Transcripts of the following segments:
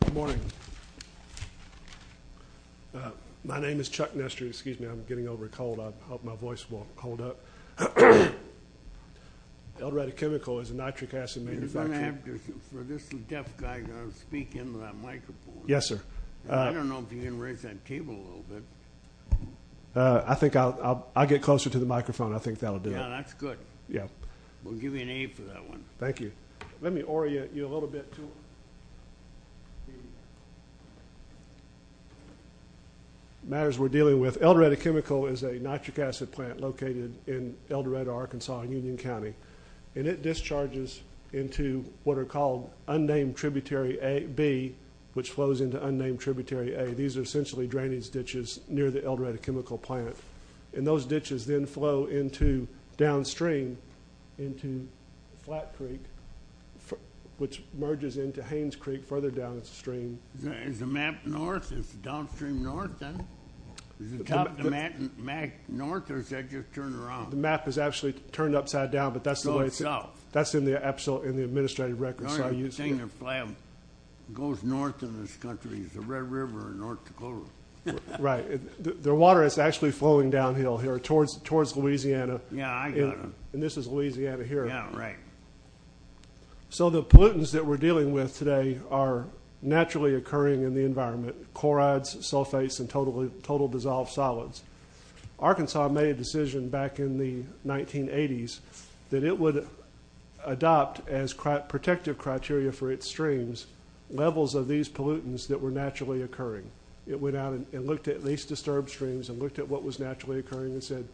Good morning. My name is Chuck Nestor. Excuse me. I'm getting over a cold. I hope my voice will hold up. Eldoretta Chemical is a nitric acid manufacturer. I'm going to have to, for this deaf guy, speak into that microphone. Yes, sir. I don't know if you can raise that table a little bit. I think I'll get closer to the microphone. I think that'll do it. Yeah, that's good. Yeah. We'll give you an A for that one. Thank you. Let me orient you a little bit to the matters we're dealing with. Eldoretta Chemical is a nitric acid plant located in Eldoretta, Arkansas, in Union County, and it discharges into what are called unnamed tributary B, which flows into unnamed tributary A. These are essentially drainage ditches near the Eldoretta Chemical plant, and those drainage ditches flow into, downstream, into Flat Creek, which merges into Haynes Creek further downstream. Is the map north? Is it downstream north, then? Is the top of the map north, or is that just turned around? The map is actually turned upside down, but that's the way it's... It goes south. That's in the administrative records. So I'm using... The only thing that goes north in this country is the Red River and North Dakota. Right. The water is actually flowing downhill here towards Louisiana, and this is Louisiana here. Yeah, right. So the pollutants that we're dealing with today are naturally occurring in the environment, chlorides, sulfates, and total dissolved solids. Arkansas made a decision back in the 1980s that it would adopt as protective criteria for its streams levels of these pollutants that were naturally occurring. It went out and looked at least disturbed streams and looked at what was naturally occurring and said,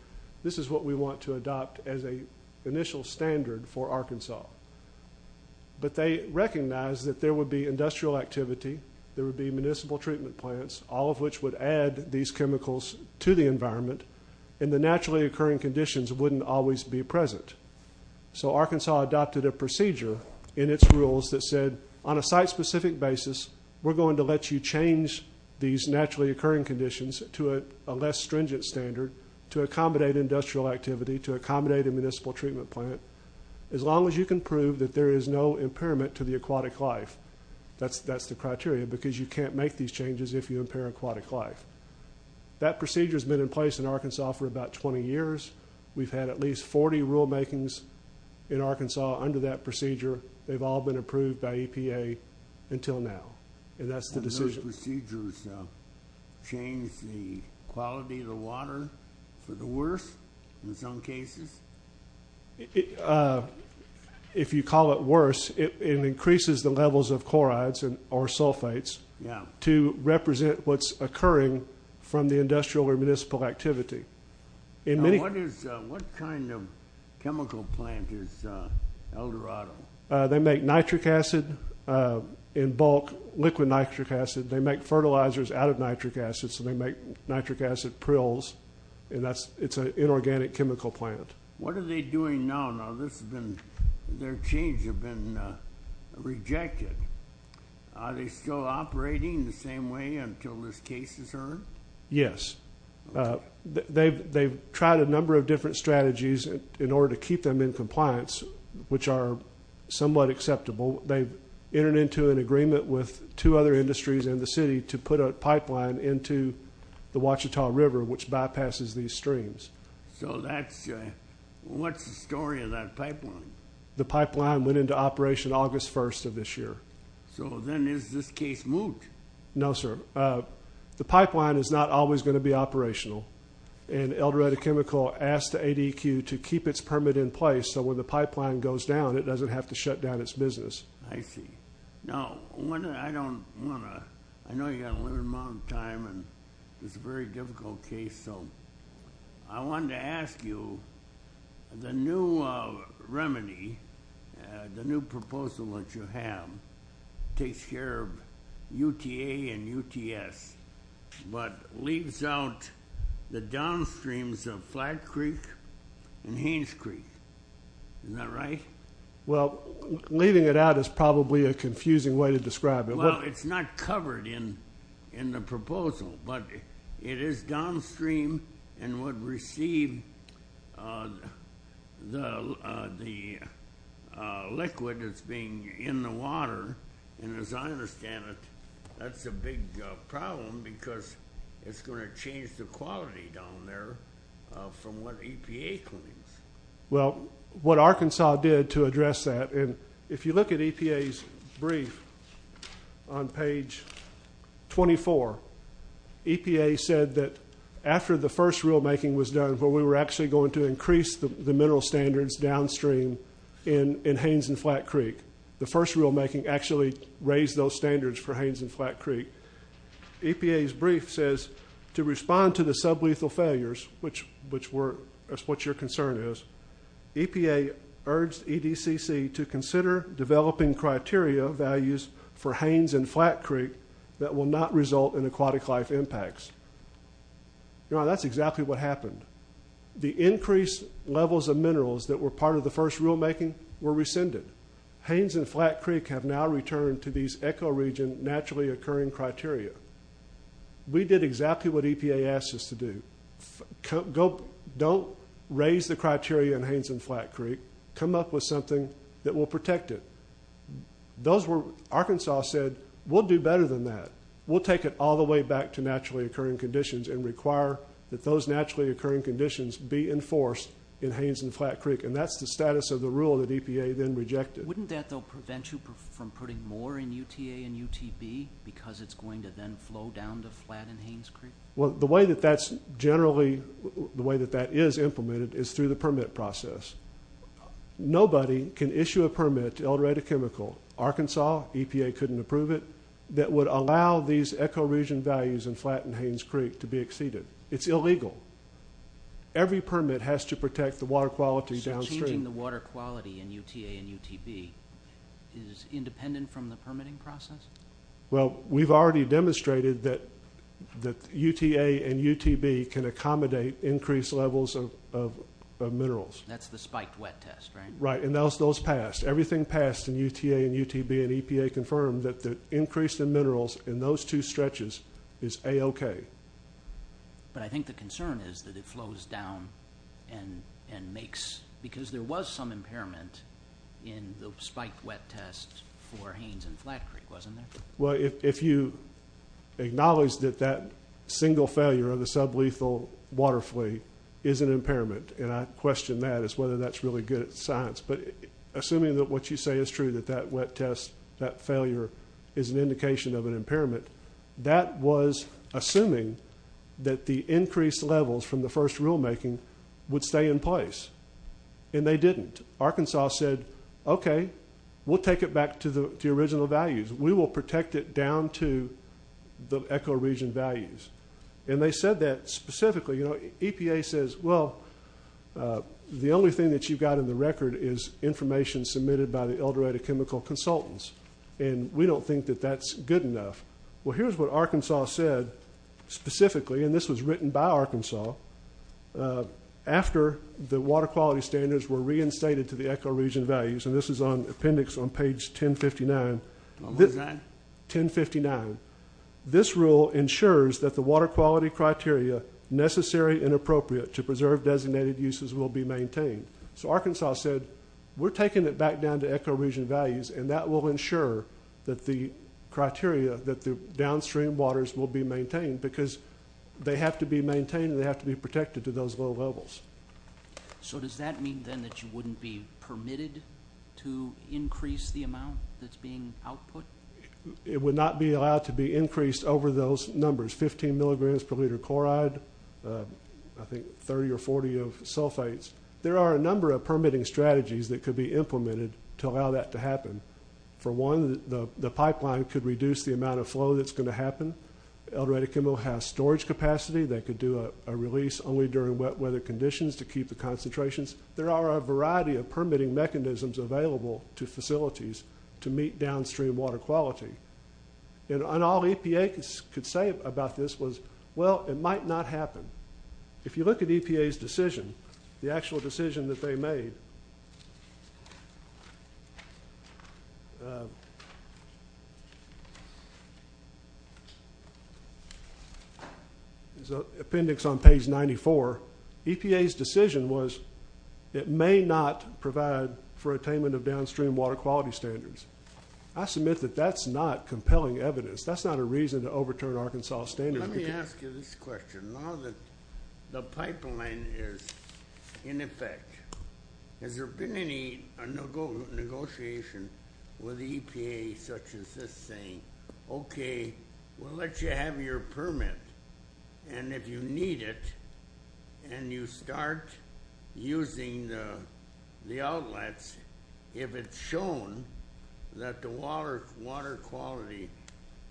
this is what we want to adopt as an initial standard for Arkansas. But they recognized that there would be industrial activity, there would be municipal treatment plants, all of which would add these chemicals to the environment, and the naturally occurring conditions wouldn't always be present. So Arkansas adopted a procedure in its rules that said, on a site-specific basis, we're going to let you change these naturally occurring conditions to a less stringent standard to accommodate industrial activity, to accommodate a municipal treatment plant, as long as you can prove that there is no impairment to the aquatic life. That's the criteria, because you can't make these changes if you impair aquatic life. That procedure has been in place in Arkansas for about 20 years. We've had at least 40 rulemakings in Arkansas under that procedure. They've all been approved by EPA until now, and that's the decision. And those procedures change the quality of the water for the worse, in some cases? If you call it worse, it increases the levels of chlorides or sulfates to represent what's occurring from the industrial or municipal activity. What kind of chemical plant is Eldorado? They make nitric acid in bulk, liquid nitric acid. They make fertilizers out of nitric acid, so they make nitric acid prills, and it's an inorganic chemical plant. What are they doing now? Now, this has been, their changes have been rejected. Are they still operating the same way until this case is heard? Yes. They've tried a number of different strategies in order to keep them in compliance, which are somewhat acceptable. They've entered into an agreement with two other industries in the city to put a pipeline into the Ouachita River, which bypasses these streams. So that's, what's the story of that pipeline? The pipeline went into operation August 1st of this year. So then is this case moved? No, sir. The pipeline is not always going to be operational, and Eldorado Chemical asked the ADQ to keep its permit in place so when the pipeline goes down, it doesn't have to shut down its business. I see. Now, I don't want to, I know you've got a limited amount of time, and it's a very difficult case, so I wanted to ask you, the new remedy, the new proposal that you have, takes care of UTA and UTS, but leaves out the downstreams of Flat Creek and Haynes Creek, is that right? Well, leaving it out is probably a confusing way to describe it. Well, it's not covered in the proposal, but it is downstream and would receive the liquid that's being in the water, and as I understand it, that's a big problem because it's going to change the quality down there from what EPA claims. Well, what Arkansas did to address that, and if you look at EPA's brief on page 24, EPA said that after the first rulemaking was done, where we were actually going to increase the rulemaking actually raised those standards for Haynes and Flat Creek. EPA's brief says, to respond to the sublethal failures, which were what your concern is, EPA urged EDCC to consider developing criteria values for Haynes and Flat Creek that will not result in aquatic life impacts. Now, that's exactly what happened. The increased levels of minerals that were part of the first rulemaking were rescinded. Haynes and Flat Creek have now returned to these ecoregion naturally occurring criteria. We did exactly what EPA asked us to do. Don't raise the criteria in Haynes and Flat Creek. Come up with something that will protect it. Those were Arkansas said, we'll do better than that. We'll take it all the way back to naturally occurring conditions and require that those naturally occurring conditions be enforced in Haynes and Flat Creek, and that's the status of the rule that EPA then rejected. Wouldn't that, though, prevent you from putting more in UTA and UTB because it's going to then flow down to Flat and Haynes Creek? Well, the way that that's generally, the way that that is implemented is through the permit process. Nobody can issue a permit to alterate a chemical, Arkansas, EPA couldn't approve it, that would allow these ecoregion values in Flat and Haynes Creek to be exceeded. It's illegal. Every permit has to protect the water quality downstream. So changing the water quality in UTA and UTB is independent from the permitting process? Well, we've already demonstrated that UTA and UTB can accommodate increased levels of minerals. That's the spiked wet test, right? Right, and those passed. Everything passed in UTA and UTB and EPA confirmed that the increase in minerals in those two But I think the concern is that it flows down and makes, because there was some impairment in the spiked wet test for Haynes and Flat Creek, wasn't there? Well, if you acknowledge that that single failure of the sublethal water flea is an impairment, and I question that as whether that's really good science, but assuming that what you say is true, that that wet test, that failure is an indication of an impairment, that was assuming that the increased levels from the first rulemaking would stay in place, and they didn't. Arkansas said, Okay, we'll take it back to the original values. We will protect it down to the ecoregion values. And they said that specifically. You know, EPA says, Well, the only thing that you've got in the record is information submitted by the Eldorado Chemical Consultants, and we don't think that that's good enough. Well, here's what Arkansas said specifically, and this was written by Arkansas. After the water quality standards were reinstated to the ecoregion values, and this is on appendix on page 1059, this rule ensures that the water quality criteria necessary and appropriate to preserve designated uses will be maintained. So Arkansas said, We're taking it back down to ecoregion values, and that will ensure that the criteria, that the downstream waters will be maintained because they have to be maintained and they have to be protected to those low levels. So does that mean, then, that you wouldn't be permitted to increase the amount that's being output? It would not be allowed to be increased over those numbers, 15 milligrams per liter chloride, I think 30 or 40 of sulfates. There are a number of permitting strategies that could be implemented to allow that to happen. For one, the pipeline could reduce the amount of flow that's going to happen. Eldorado Chemical has storage capacity that could do a release only during wet weather conditions to keep the concentrations. There are a variety of permitting mechanisms available to facilities to meet downstream water quality. And all EPA could say about this was, Well, it might not happen. If you look at EPA's decision, the actual decision that they made is appendix on page 94. EPA's decision was it may not provide for attainment of downstream water quality standards. I submit that that's not compelling evidence. That's not a reason to overturn Arkansas standards. Let me ask you this question. Now that the pipeline is in effect, has there been any negotiation with EPA such as this saying, Okay, we'll let you have your permit. And if you need it, and you start using the outlets, if it's shown that the water quality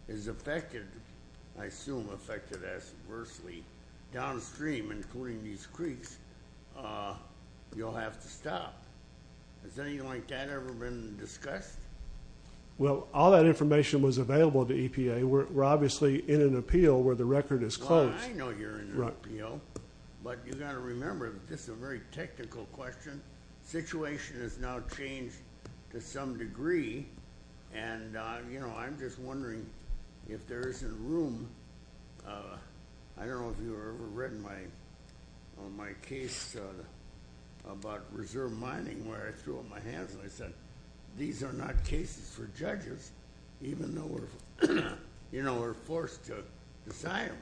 is affected, I assume affected as adversely downstream, including these creeks, you'll have to stop. Has anything like that ever been discussed? Well, all that information was available to EPA. We're obviously in an appeal where the record is closed. Well, I know you're in an appeal. But you've got to remember, this is a very technical question. The situation has now changed to some degree. And I'm just wondering if there isn't room. I don't know if you've ever read my case about reserve mining where I threw up my hands and I said, These are not cases for judges, even though we're forced to sign them.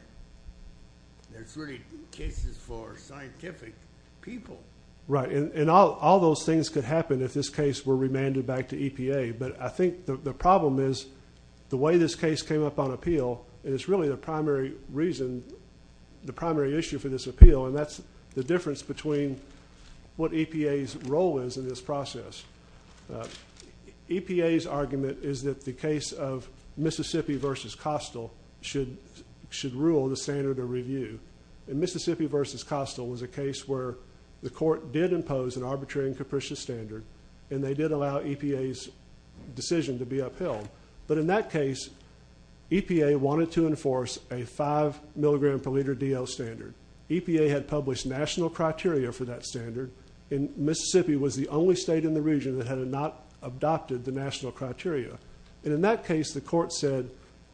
It's really cases for scientific people. Right. And all those things could happen if this case were remanded back to EPA. But I think the problem is the way this case came up on appeal, and it's really the primary reason, the primary issue for this appeal, and that's the difference between what EPA's role is in this process. EPA's argument is that the case of Mississippi v. Costill should rule the standard of review. And Mississippi v. Costill was a case where the court did impose an arbitrary and capricious standard, and they did allow EPA's decision to be upheld. But in that case, EPA wanted to enforce a 5 milligram per liter DL standard. EPA had published national criteria for that standard, and Mississippi was the only state in the region that had not adopted the national criteria. And in that case, the court said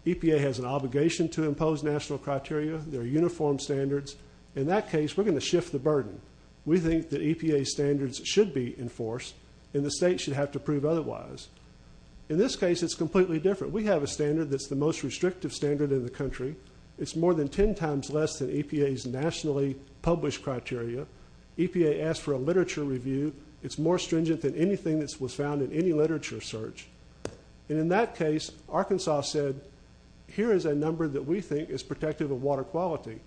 EPA has an obligation to impose national criteria. There are uniform standards. In that case, we're going to shift the burden. We think that EPA's standards should be enforced, and the state should have to prove otherwise. In this case, it's completely different. We have a standard that's the most restrictive standard in the country. It's more than ten times less than EPA's nationally published criteria. EPA asked for a literature review. It's more stringent than anything that was found in any literature search. And in that case, Arkansas said, here is a number that we think is protective of water quality.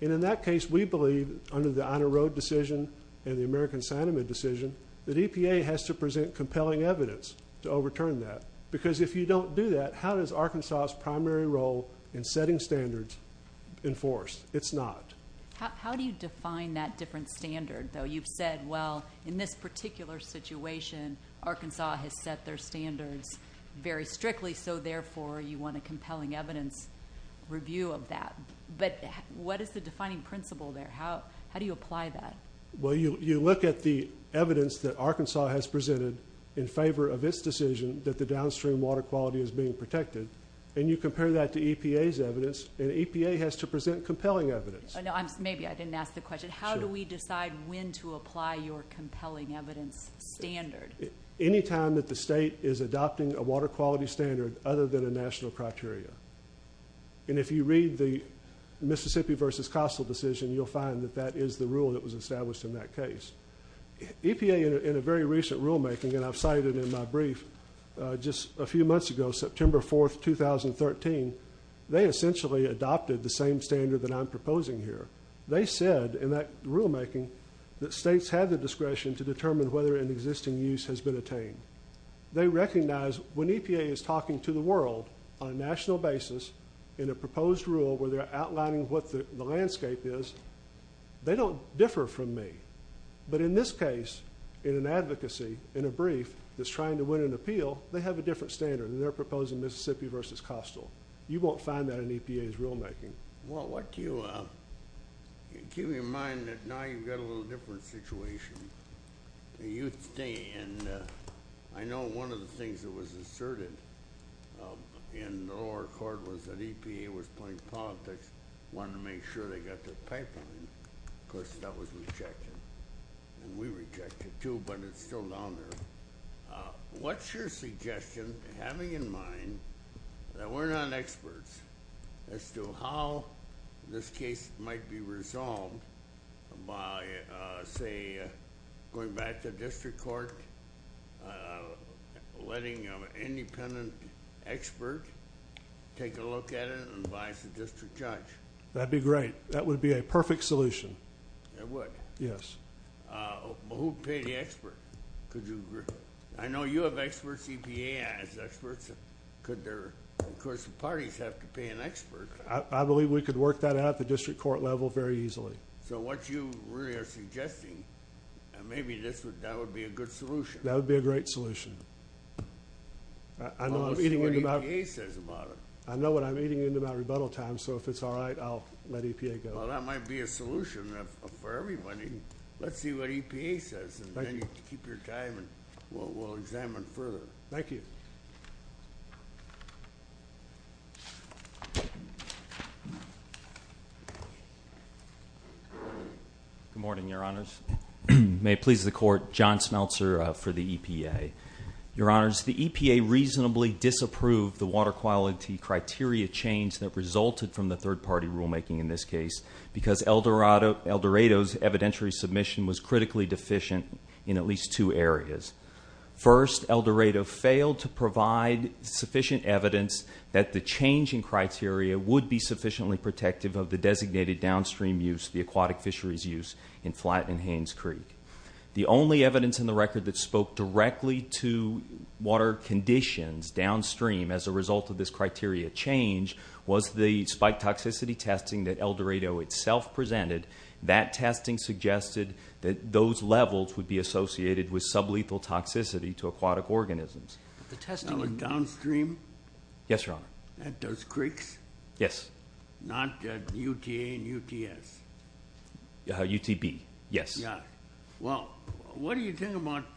And in that case, we believe, under the Ina Road decision and the American Cyanamid decision, that EPA has to present compelling evidence to overturn that. Because if you don't do that, how does Arkansas' primary role in setting standards enforce? It's not. How do you define that different standard, though? You've said, well, in this particular situation, Arkansas has set their standards very strictly, so therefore you want a compelling evidence review of that. But what is the defining principle there? How do you apply that? Well, you look at the evidence that Arkansas has presented in favor of its decision that the downstream water quality is being protected, and you compare that to EPA's evidence, and EPA has to present compelling evidence. Maybe I didn't ask the question. But how do we decide when to apply your compelling evidence standard? Any time that the state is adopting a water quality standard other than a national criteria. And if you read the Mississippi v. Costle decision, you'll find that that is the rule that was established in that case. EPA, in a very recent rulemaking, and I've cited it in my brief, just a few months ago, September 4, 2013, they essentially adopted the same standard that I'm proposing here. They said, in that rulemaking, that states have the discretion to determine whether an existing use has been attained. They recognize when EPA is talking to the world on a national basis in a proposed rule where they're outlining what the landscape is, they don't differ from me. But in this case, in an advocacy, in a brief that's trying to win an appeal, they have a different standard than they're proposing Mississippi v. Costle. You won't find that in EPA's rulemaking. Well, keep in mind that now you've got a little different situation. I know one of the things that was asserted in the lower court was that EPA was playing politics, wanted to make sure they got the pipeline. Of course, that was rejected. And we reject it, too, but it's still down there. What's your suggestion, having in mind that we're not experts, as to how this case might be resolved by, say, going back to district court, letting an independent expert take a look at it and advise the district judge? That would be great. That would be a perfect solution. It would? Yes. Who would pay the expert? I know you have experts. EPA has experts. Of course, the parties have to pay an expert. I believe we could work that out at the district court level very easily. So what you really are suggesting, maybe that would be a good solution. That would be a great solution. I know what I'm eating into about rebuttal time, so if it's all right, I'll let EPA go. Well, that might be a solution for everybody. Let's see what EPA says, and then you can keep your time, and we'll examine further. Thank you. Good morning, Your Honors. May it please the Court, John Smeltzer for the EPA. Your Honors, the EPA reasonably disapproved the water quality criteria change that resulted from the third-party rulemaking in this case because Eldorado's evidentiary submission was critically deficient in at least two areas. First, Eldorado failed to provide sufficient evidence that the change in criteria would be sufficiently protective of the designated downstream use, the aquatic fisheries use, in Flat and Haynes Creek. The only evidence in the record that spoke directly to water conditions downstream as a result of this criteria change was the spike toxicity testing that Eldorado itself presented. That testing suggested that those levels would be associated with sublethal toxicity to aquatic organisms. The testing downstream? Yes, Your Honor. At those creeks? Yes. Not at UTA and UTS? UTB, yes. Yeah. Well, what do you think about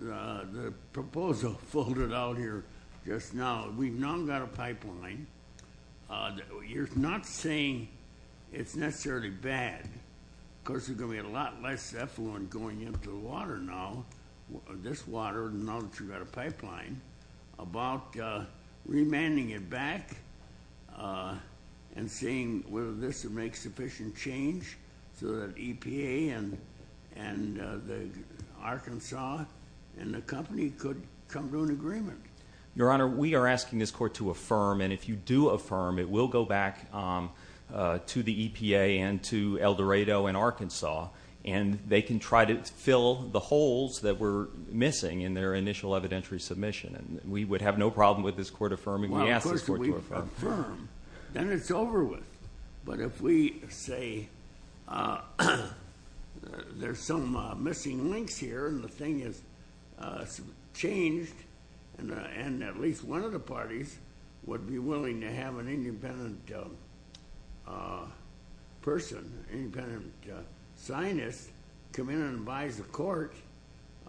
the proposal folded out here just now? We've now got a pipeline. You're not saying it's necessarily bad because there's going to be a lot less effluent going into the water now, this water, now that you've got a pipeline, about remanding it back and seeing whether this would make sufficient change so that EPA and Arkansas and the company could come to an agreement. Your Honor, we are asking this Court to affirm, and if you do affirm, it will go back to the EPA and to Eldorado and Arkansas, and they can try to fill the holes that were missing in their initial evidentiary submission. We would have no problem with this Court affirming. We ask this Court to affirm. Well, of course if we affirm, then it's over with. But if we say there's some missing links here and the thing has changed and at least one of the parties would be willing to have an independent person, an independent signist come in and advise the Court,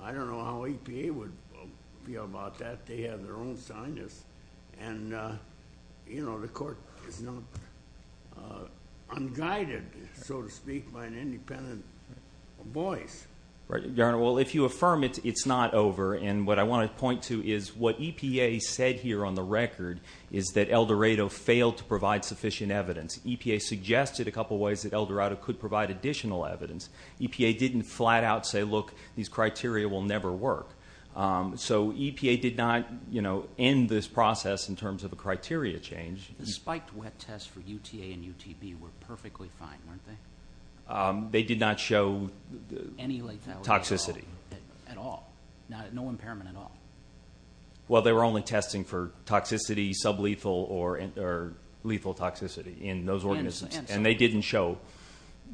I don't know how EPA would feel about that. They have their own signist, and the Court is not unguided, so to speak, by an independent voice. Your Honor, well, if you affirm it, it's not over. And what I want to point to is what EPA said here on the record is that Eldorado failed to provide sufficient evidence. EPA suggested a couple of ways that Eldorado could provide additional evidence. EPA didn't flat out say, look, these criteria will never work. So EPA did not end this process in terms of a criteria change. The spiked wet tests for UTA and UTP were perfectly fine, weren't they? They did not show toxicity. At all? No impairment at all? Well, they were only testing for toxicity, sublethal or lethal toxicity in those organisms, and they didn't show.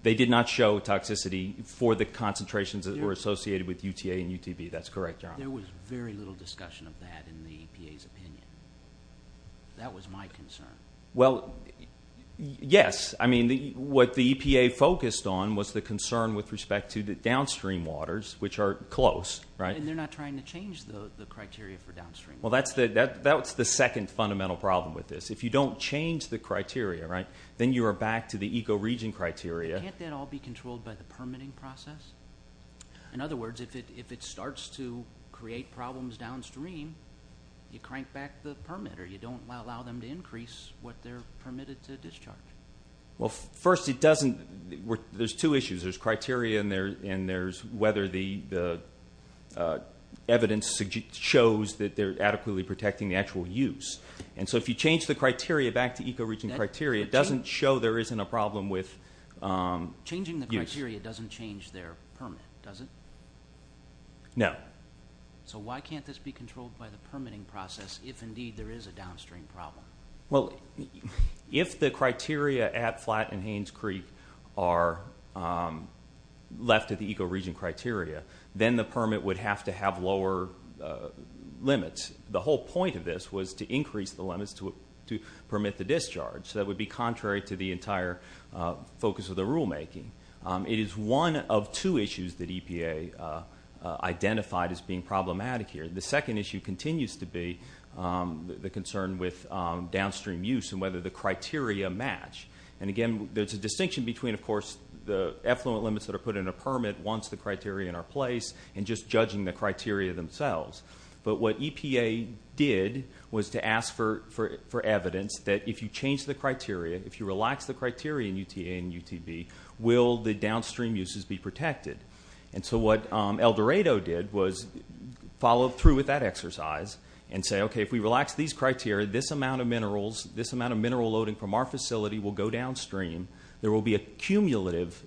They did not show toxicity for the concentrations that were associated with UTA and UTP. That's correct, Your Honor. There was very little discussion of that in the EPA's opinion. That was my concern. Well, yes. I mean, what the EPA focused on was the concern with respect to the downstream waters, which are close, right? And they're not trying to change the criteria for downstream waters. Well, that's the second fundamental problem with this. If you don't change the criteria, right, then you are back to the ecoregion criteria. Can't that all be controlled by the permitting process? In other words, if it starts to create problems downstream, you crank back the permit, or you don't allow them to increase what they're permitted to discharge. Well, first, it doesn't. There's two issues. There's criteria and there's whether the evidence shows that they're adequately protecting the actual use. And so if you change the criteria back to ecoregion criteria, it doesn't show there isn't a problem with use. Changing the criteria doesn't change their permit, does it? No. So why can't this be controlled by the permitting process if, indeed, there is a downstream problem? Well, if the criteria at Flat and Haynes Creek are left at the ecoregion criteria, then the permit would have to have lower limits. The whole point of this was to increase the limits to permit the discharge. So that would be contrary to the entire focus of the rulemaking. It is one of two issues that EPA identified as being problematic here. The second issue continues to be the concern with downstream use and whether the criteria match. And, again, there's a distinction between, of course, the effluent limits that are put in a permit once the criteria are in place and just judging the criteria themselves. But what EPA did was to ask for evidence that if you change the criteria, if you relax the criteria in UTA and UTB, will the downstream uses be protected? And so what Eldorado did was follow through with that exercise and say, okay, if we relax these criteria, this amount of mineral loading from our facility will go downstream. There will be a cumulative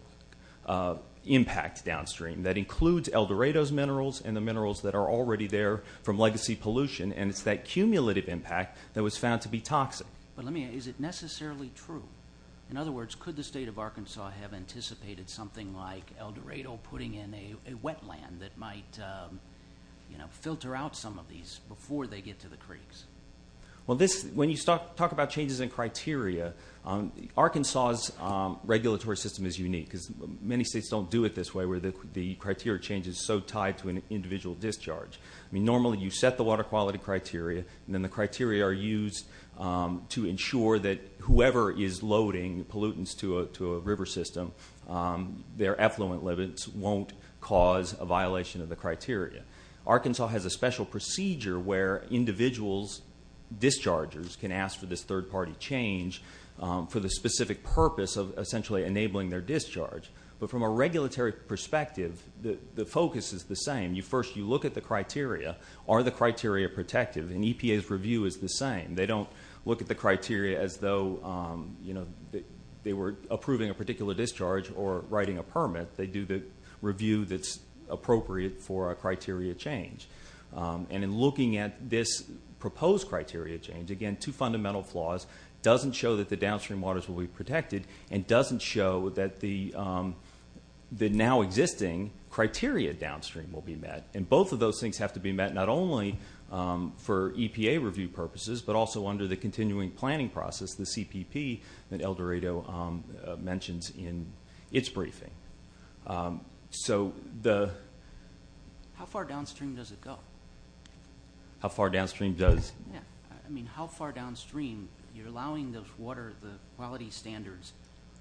impact downstream. That includes Eldorado's minerals and the minerals that are already there from legacy pollution, and it's that cumulative impact that was found to be toxic. But is it necessarily true? In other words, could the state of Arkansas have anticipated something like Eldorado putting in a wetland that might filter out some of these before they get to the creeks? When you talk about changes in criteria, Arkansas's regulatory system is unique because many states don't do it this way where the criteria change is so tied to an individual discharge. Normally you set the water quality criteria, and then the criteria are used to ensure that whoever is loading pollutants to a river system, their effluent limits won't cause a violation of the criteria. Arkansas has a special procedure where individuals' dischargers can ask for this third-party change for the specific purpose of essentially enabling their discharge. But from a regulatory perspective, the focus is the same. First you look at the criteria. Are the criteria protective? And EPA's review is the same. They don't look at the criteria as though they were approving a particular discharge or writing a permit. They do the review that's appropriate for a criteria change. And in looking at this proposed criteria change, again, two fundamental flaws. It doesn't show that the downstream waters will be protected, and it doesn't show that the now-existing criteria downstream will be met. And both of those things have to be met not only for EPA review purposes, but also under the continuing planning process, the CPP, that El Dorado mentions in its briefing. So the... How far downstream does it go? How far downstream does... I mean, how far downstream? You're allowing those water quality standards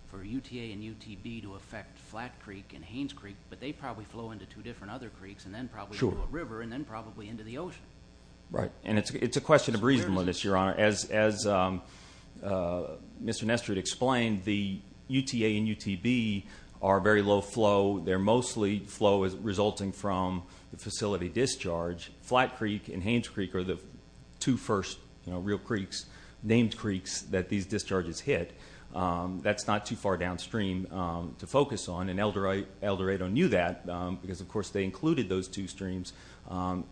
for UTA and UTB to affect Flat Creek and Haynes Creek, but they probably flow into two different other creeks and then probably into a river and then probably into the ocean. Right. And it's a question of reasonableness, Your Honor. As Mr. Nestor explained, the UTA and UTB are very low flow. They're mostly flow resulting from the facility discharge. Flat Creek and Haynes Creek are the two first real creeks, named creeks, that these discharges hit. That's not too far downstream to focus on, and El Dorado knew that because, of course, they included those two streams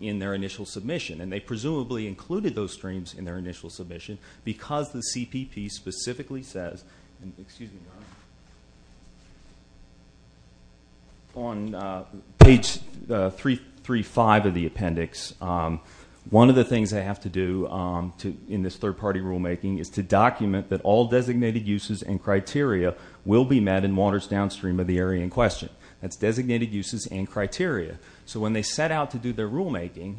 in their initial submission, and they presumably included those streams in their initial submission because the CPP specifically says... Excuse me, Your Honor. On page 335 of the appendix, one of the things they have to do in this third-party rulemaking is to document that all designated uses and criteria will be met in waters downstream of the area in question. That's designated uses and criteria. So when they set out to do their rulemaking,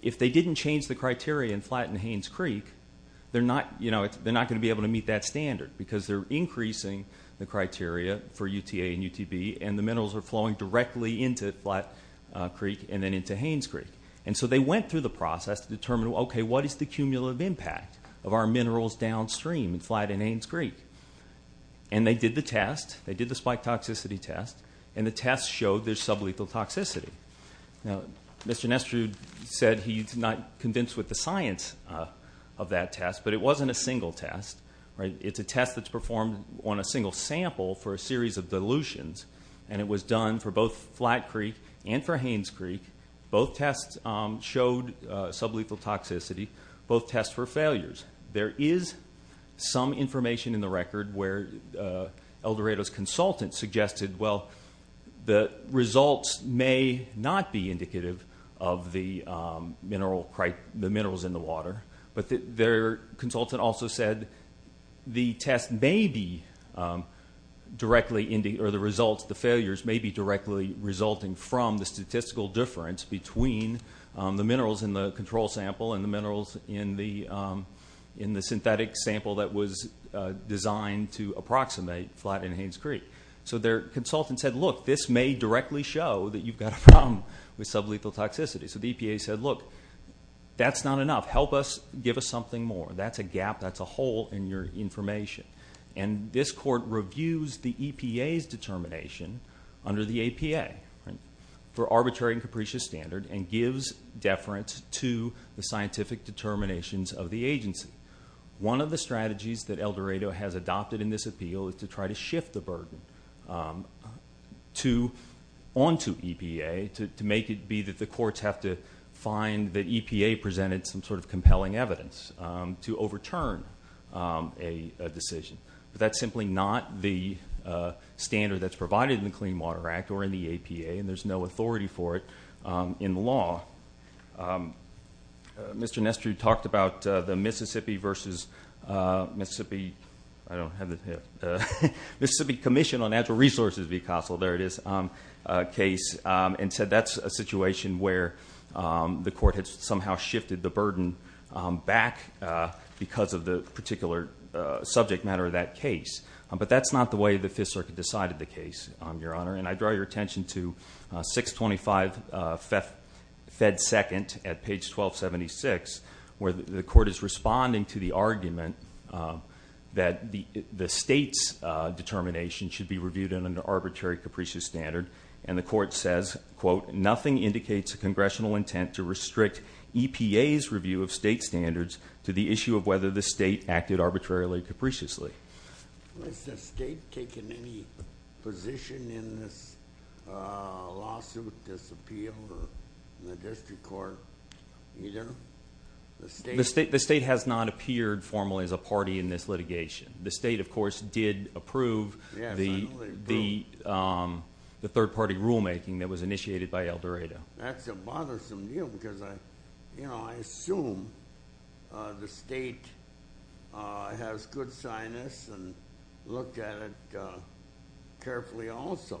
if they didn't change the criteria in Flat and Haynes Creek, they're not going to be able to meet that standard because they're increasing the criteria for UTA and UTB, and the minerals are flowing directly into Flat Creek and then into Haynes Creek. And so they went through the process to determine, okay, what is the cumulative impact of our minerals downstream in Flat and Haynes Creek? And they did the test. And the test showed there's sublethal toxicity. Now, Mr. Nestrude said he's not convinced with the science of that test, but it wasn't a single test. It's a test that's performed on a single sample for a series of dilutions, and it was done for both Flat Creek and for Haynes Creek. Both tests showed sublethal toxicity. Both tests were failures. There is some information in the record where El Dorado's consultant suggested, well, the results may not be indicative of the minerals in the water, but their consultant also said the test may be directly – or the results, the failures may be directly resulting from the statistical difference between the minerals in the control sample and the minerals in the synthetic sample that was designed to approximate Flat and Haynes Creek. So their consultant said, look, this may directly show that you've got a problem with sublethal toxicity. So the EPA said, look, that's not enough. Help us, give us something more. That's a gap, that's a hole in your information. And this court reviews the EPA's determination under the APA for arbitrary and capricious standard and gives deference to the scientific determinations of the agency. One of the strategies that El Dorado has adopted in this appeal is to try to shift the burden onto EPA, to make it be that the courts have to find that EPA presented some sort of compelling evidence to overturn a decision. But that's simply not the standard that's provided in the Clean Water Act or in the APA, and there's no authority for it in law. Mr. Nestrue talked about the Mississippi versus Mississippi, I don't have it here, Mississippi Commission on Natural Resources v. Castle, there it is, case and said that's a situation where the court has somehow shifted the burden back because of the particular subject matter of that case. But that's not the way the Fifth Circuit decided the case, Your Honor, and I draw your attention to 625 Fed 2nd at page 1276, where the court is responding to the argument that the state's determination should be reviewed under arbitrary capricious standard, and the court says, quote, nothing indicates a congressional intent to restrict EPA's review of state standards to the issue of whether the state acted arbitrarily capriciously. Has the state taken any position in this lawsuit disappeal in the district court either? The state has not appeared formally as a party in this litigation. The state, of course, did approve the third-party rulemaking that was initiated by El Dorado. That's a bothersome deal because, you know, I assume the state has good sinus and looked at it carefully also.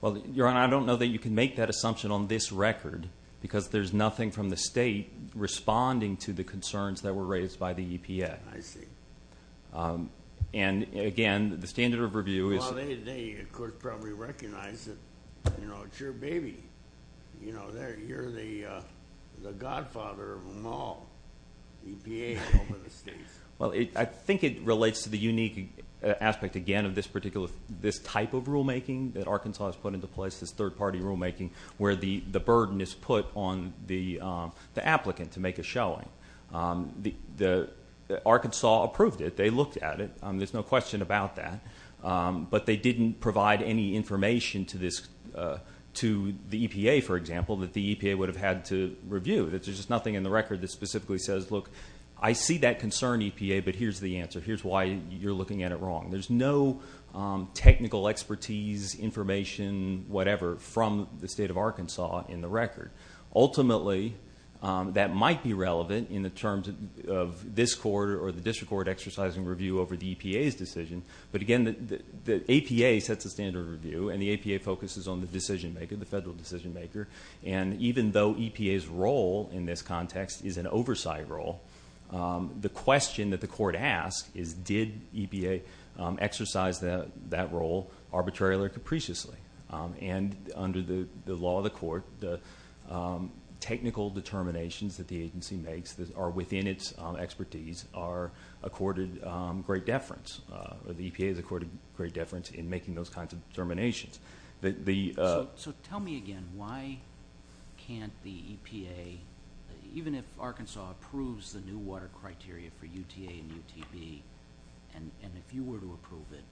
Well, Your Honor, I don't know that you can make that assumption on this record because there's nothing from the state responding to the concerns that were raised by the EPA. I see. And, again, the standard of review is... Well, they could probably recognize that, you know, it's your baby. You know, you're the godfather of them all, EPA over the states. Well, I think it relates to the unique aspect, again, of this particular type of rulemaking that Arkansas has put into place, this third-party rulemaking, where the burden is put on the applicant to make a showing. Arkansas approved it. They looked at it. There's no question about that. But they didn't provide any information to the EPA, for example, that the EPA would have had to review. There's just nothing in the record that specifically says, look, I see that concern, EPA, but here's the answer. Here's why you're looking at it wrong. There's no technical expertise, information, whatever, from the state of Arkansas in the record. Ultimately, that might be relevant in the terms of this court or the district court exercising review over the EPA's decision. But, again, the APA sets the standard of review, and the APA focuses on the decision-maker, the federal decision-maker. And even though EPA's role in this context is an oversight role, the question that the court asks is, did EPA exercise that role arbitrarily or capriciously? And under the law of the court, the technical determinations that the agency makes are within its expertise are accorded great deference. The EPA is accorded great deference in making those kinds of determinations. So tell me again, why can't the EPA, even if Arkansas approves the new water criteria for UTA and UTP, and if you were to approve it,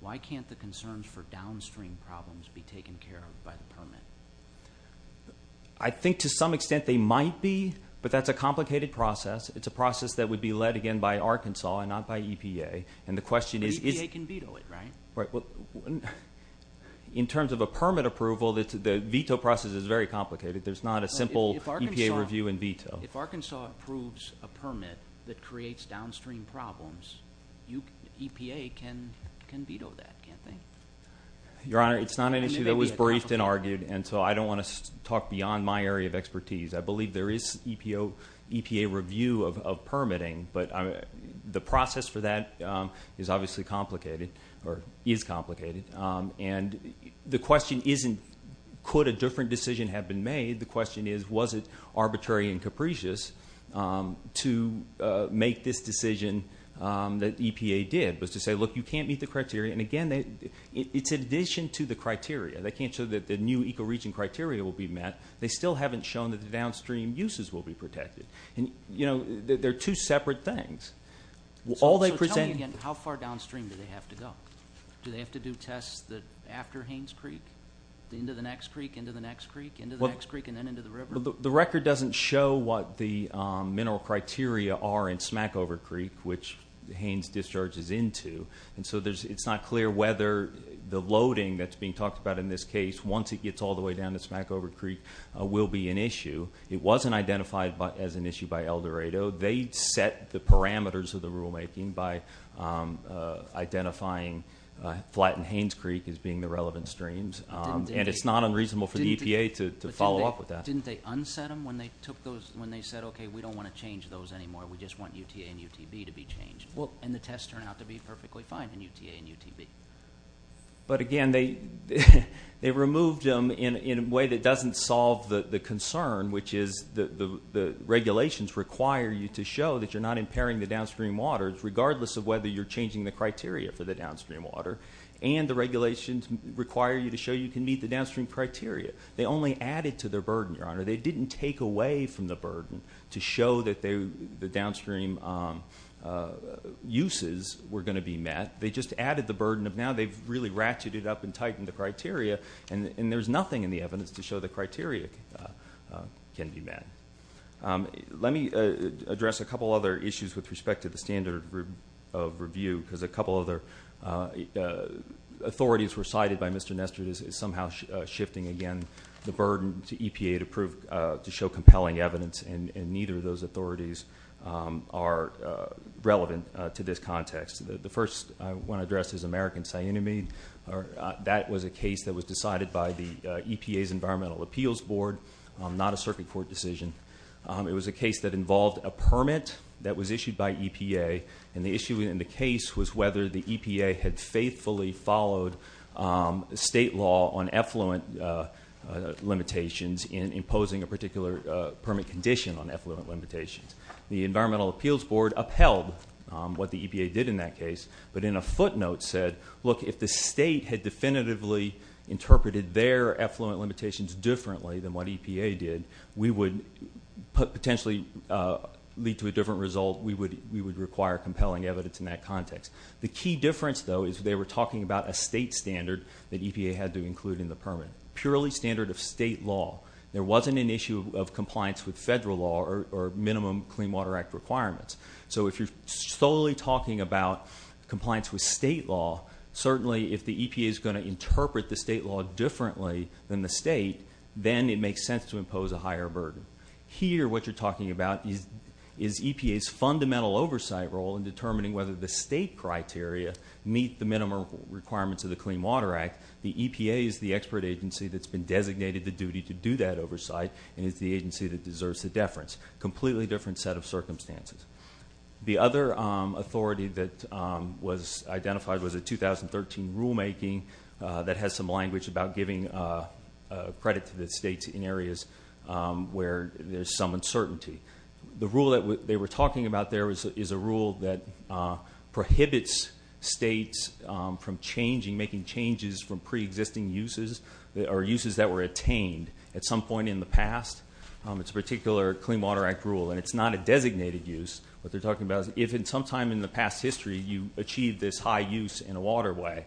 why can't the concerns for downstream problems be taken care of by the permit? I think to some extent they might be, but that's a complicated process. It's a process that would be led, again, by Arkansas and not by EPA. But EPA can veto it, right? In terms of a permit approval, the veto process is very complicated. There's not a simple EPA review and veto. If Arkansas approves a permit that creates downstream problems, EPA can veto that, can't they? Your Honor, it's not an issue that was briefed and argued, and so I don't want to talk beyond my area of expertise. I believe there is EPA review of permitting, but the process for that is obviously complicated, or is complicated. And the question isn't, could a different decision have been made? The question is, was it arbitrary and capricious to make this decision that EPA did, was to say, look, you can't meet the criteria. And, again, it's in addition to the criteria. They can't show that the new ecoregion criteria will be met. They still haven't shown that the downstream uses will be protected. And, you know, they're two separate things. So tell me again, how far downstream do they have to go? Well, the record doesn't show what the mineral criteria are in Smackover Creek, which Haynes Discharge is into. And so it's not clear whether the loading that's being talked about in this case, once it gets all the way down to Smackover Creek, will be an issue. It wasn't identified as an issue by Eldorado. They set the parameters of the rulemaking by identifying Flatton Haynes Creek as being the relevant streams. And it's not unreasonable for the EPA to follow up with that. Didn't they unset them when they said, okay, we don't want to change those anymore. We just want UTA and UTV to be changed. And the tests turned out to be perfectly fine in UTA and UTV. But, again, they removed them in a way that doesn't solve the concern, which is the regulations require you to show that you're not impairing the downstream waters, regardless of whether you're changing the criteria for the downstream water. And the regulations require you to show you can meet the downstream criteria. They only added to their burden, Your Honor. They didn't take away from the burden to show that the downstream uses were going to be met. They just added the burden of now they've really ratcheted it up and tightened the criteria, and there's nothing in the evidence to show the criteria can be met. Let me address a couple other issues with respect to the standard of review because a couple other authorities were cited by Mr. Nestor is somehow shifting, again, the burden to EPA to show compelling evidence, and neither of those authorities are relevant to this context. The first I want to address is American Cyanamide. That was a case that was decided by the EPA's Environmental Appeals Board, not a circuit court decision. It was a case that involved a permit that was issued by EPA, and the issue in the case was whether the EPA had faithfully followed state law on effluent limitations in imposing a particular permit condition on effluent limitations. The Environmental Appeals Board upheld what the EPA did in that case, but in a footnote said, look, if the state had definitively interpreted their effluent limitations differently than what EPA did, we would potentially lead to a different result. We would require compelling evidence in that context. The key difference, though, is they were talking about a state standard that EPA had to include in the permit, purely standard of state law. There wasn't an issue of compliance with federal law or minimum Clean Water Act requirements. So if you're solely talking about compliance with state law, certainly if the EPA is going to interpret the state law differently than the state, then it makes sense to impose a higher burden. Here, what you're talking about is EPA's fundamental oversight role in determining whether the state criteria meet the minimum requirements of the Clean Water Act. The EPA is the expert agency that's been designated the duty to do that oversight and is the agency that deserves the deference. Completely different set of circumstances. The other authority that was identified was the 2013 rulemaking that has some language about giving credit to the states in areas where there's some uncertainty. The rule that they were talking about there is a rule that prohibits states from changing, making changes from preexisting uses or uses that were attained at some point in the past. It's a particular Clean Water Act rule, and it's not a designated use. What they're talking about is if at some time in the past history you achieved this high use in a waterway,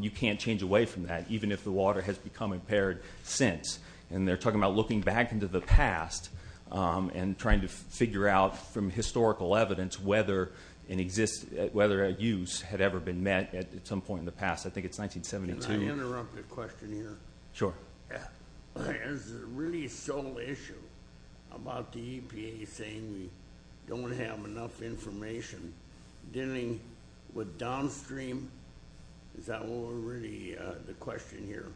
you can't change away from that, even if the water has become impaired since. And they're talking about looking back into the past and trying to figure out from historical evidence whether a use had ever been met at some point in the past. I think it's 1972. Can I interrupt a question here? Sure. There's a really sole issue about the EPA saying we don't have enough information dealing with downstream. Is that really the question here,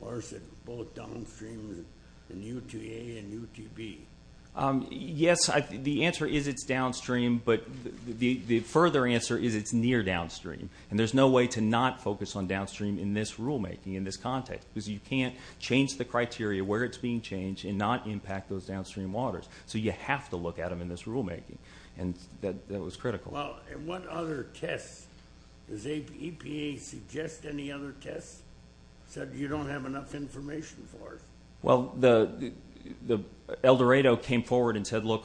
or is it both downstream and UTA and UTB? Yes, the answer is it's downstream, but the further answer is it's near downstream, and there's no way to not focus on downstream in this rulemaking, in this context, because you can't change the criteria where it's being changed and not impact those downstream waters. So you have to look at them in this rulemaking, and that was critical. And what other tests? Does EPA suggest any other tests? It said you don't have enough information for it. Well, El Dorado came forward and said, look,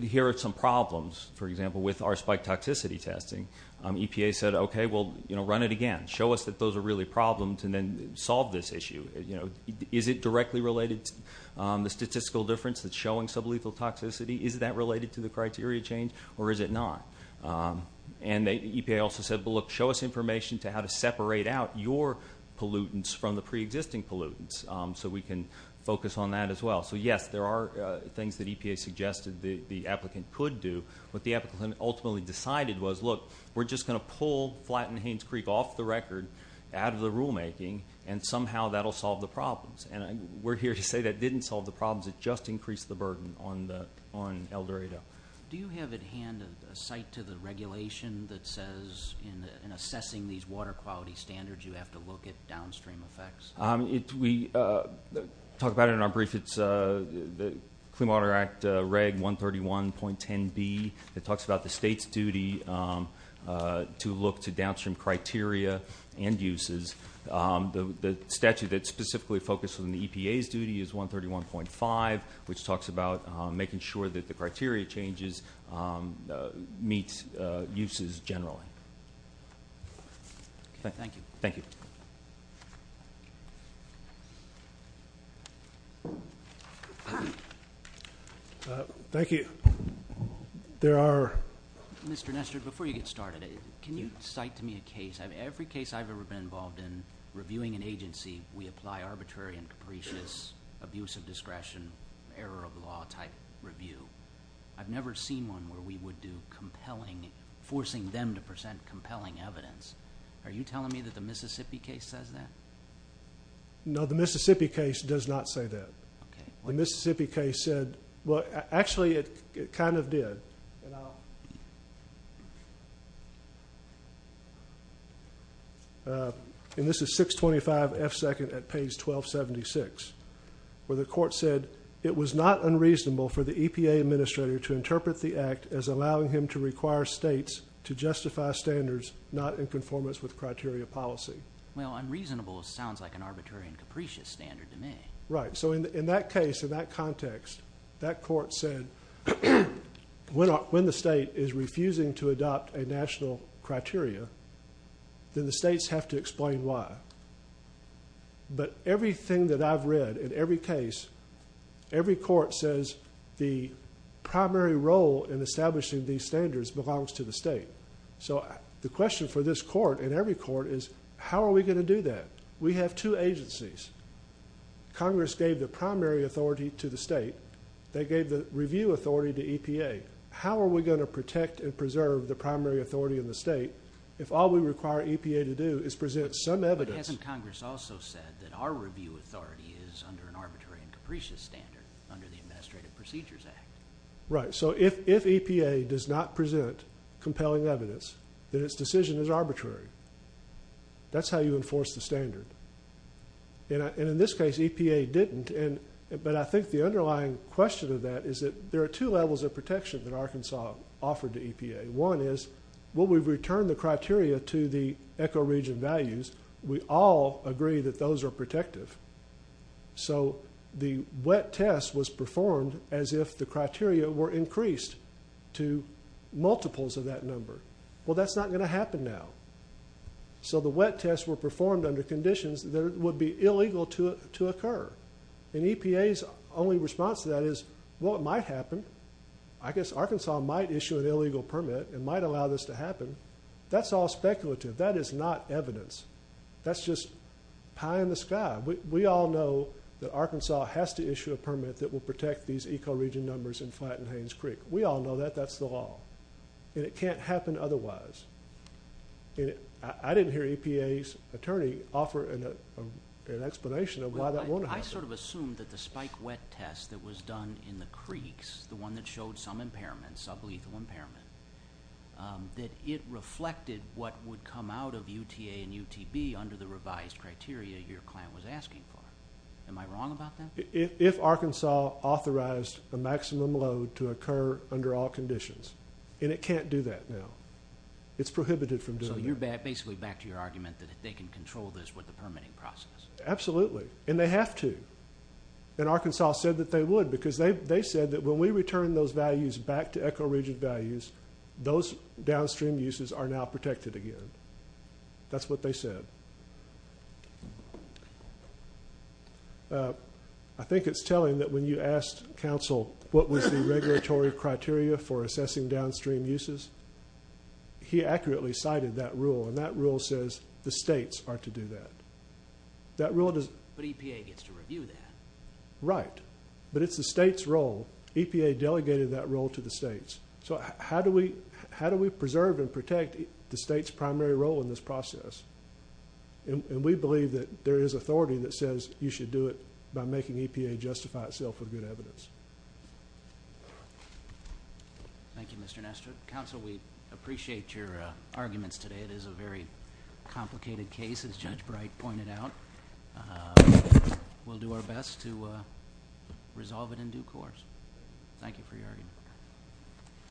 here are some problems, for example, with our spike toxicity testing. EPA said, okay, well, run it again. Show us that those are really problems, and then solve this issue. You know, is it directly related to the statistical difference that's showing sublethal toxicity? Is that related to the criteria change, or is it not? And EPA also said, well, look, show us information to how to separate out your pollutants from the preexisting pollutants so we can focus on that as well. So, yes, there are things that EPA suggested the applicant could do. What the applicant ultimately decided was, look, we're just going to pull Flatton Haynes Creek off the record, out of the rulemaking, and somehow that will solve the problems. And we're here to say that didn't solve the problems. It just increased the burden on El Dorado. Do you have at hand a site to the regulation that says in assessing these water quality standards, you have to look at downstream effects? We talk about it in our brief. It's the Clean Water Act Reg 131.10b. It talks about the state's duty to look to downstream criteria and uses. The statute that's specifically focused on the EPA's duty is 131.5, which talks about making sure that the criteria changes meet uses generally. Okay, thank you. Thank you. Thank you. There are— Mr. Nestor, before you get started, can you cite to me a case? Every case I've ever been involved in, reviewing an agency, we apply arbitrary and capricious abuse of discretion, error of law type review. I've never seen one where we would do compelling—forcing them to present compelling evidence. Are you telling me that the Mississippi case says that? No, the Mississippi case does not say that. The Mississippi case said—well, actually, it kind of did. And this is 625 F. 2nd at page 1276, where the court said it was not unreasonable for the EPA administrator to interpret the act as allowing him to require states to justify standards not in conformance with criteria policy. Well, unreasonable sounds like an arbitrary and capricious standard to me. Right. So in that case, in that context, that court said when the state is refusing to adopt a national criteria, then the states have to explain why. But everything that I've read in every case, every court says the primary role in establishing these standards belongs to the state. So the question for this court and every court is how are we going to do that? We have two agencies. Congress gave the primary authority to the state. They gave the review authority to EPA. How are we going to protect and preserve the primary authority in the state if all we require EPA to do is present some evidence? But hasn't Congress also said that our review authority is under an arbitrary and capricious standard under the Administrative Procedures Act? Right. So if EPA does not present compelling evidence, then its decision is arbitrary. That's how you enforce the standard. And in this case, EPA didn't. But I think the underlying question of that is that there are two levels of protection that Arkansas offered to EPA. One is will we return the criteria to the ecoregion values? We all agree that those are protective. So the wet test was performed as if the criteria were increased to multiples of that number. Well, that's not going to happen now. So the wet tests were performed under conditions that would be illegal to occur. And EPA's only response to that is, well, it might happen. I guess Arkansas might issue an illegal permit and might allow this to happen. That's all speculative. That is not evidence. That's just pie in the sky. We all know that Arkansas has to issue a permit that will protect these ecoregion numbers in Flatton Haynes Creek. We all know that. That's the law. And it can't happen otherwise. I didn't hear EPA's attorney offer an explanation of why that won't happen. I sort of assumed that the spike wet test that was done in the creeks, the one that showed some impairment, sublethal impairment, that it reflected what would come out of UTA and UTB under the revised criteria your client was asking for. Am I wrong about that? If Arkansas authorized a maximum load to occur under all conditions, and it can't do that now. It's prohibited from doing that. So you're basically back to your argument that they can control this with the permitting process. Absolutely. And they have to. And Arkansas said that they would because they said that when we return those values back to ecoregion values, those downstream uses are now protected again. That's what they said. I think it's telling that when you asked counsel what was the regulatory criteria for assessing downstream uses, he accurately cited that rule, and that rule says the states are to do that. But EPA gets to review that. Right. But it's the state's role. EPA delegated that role to the states. So how do we preserve and protect the state's primary role in this process? And we believe that there is authority that says you should do it by making EPA justify itself with good evidence. Thank you, Mr. Nestor. Counsel, we appreciate your arguments today. It is a very complicated case, as Judge Bright pointed out. We'll do our best to resolve it in due course. Thank you for your argument.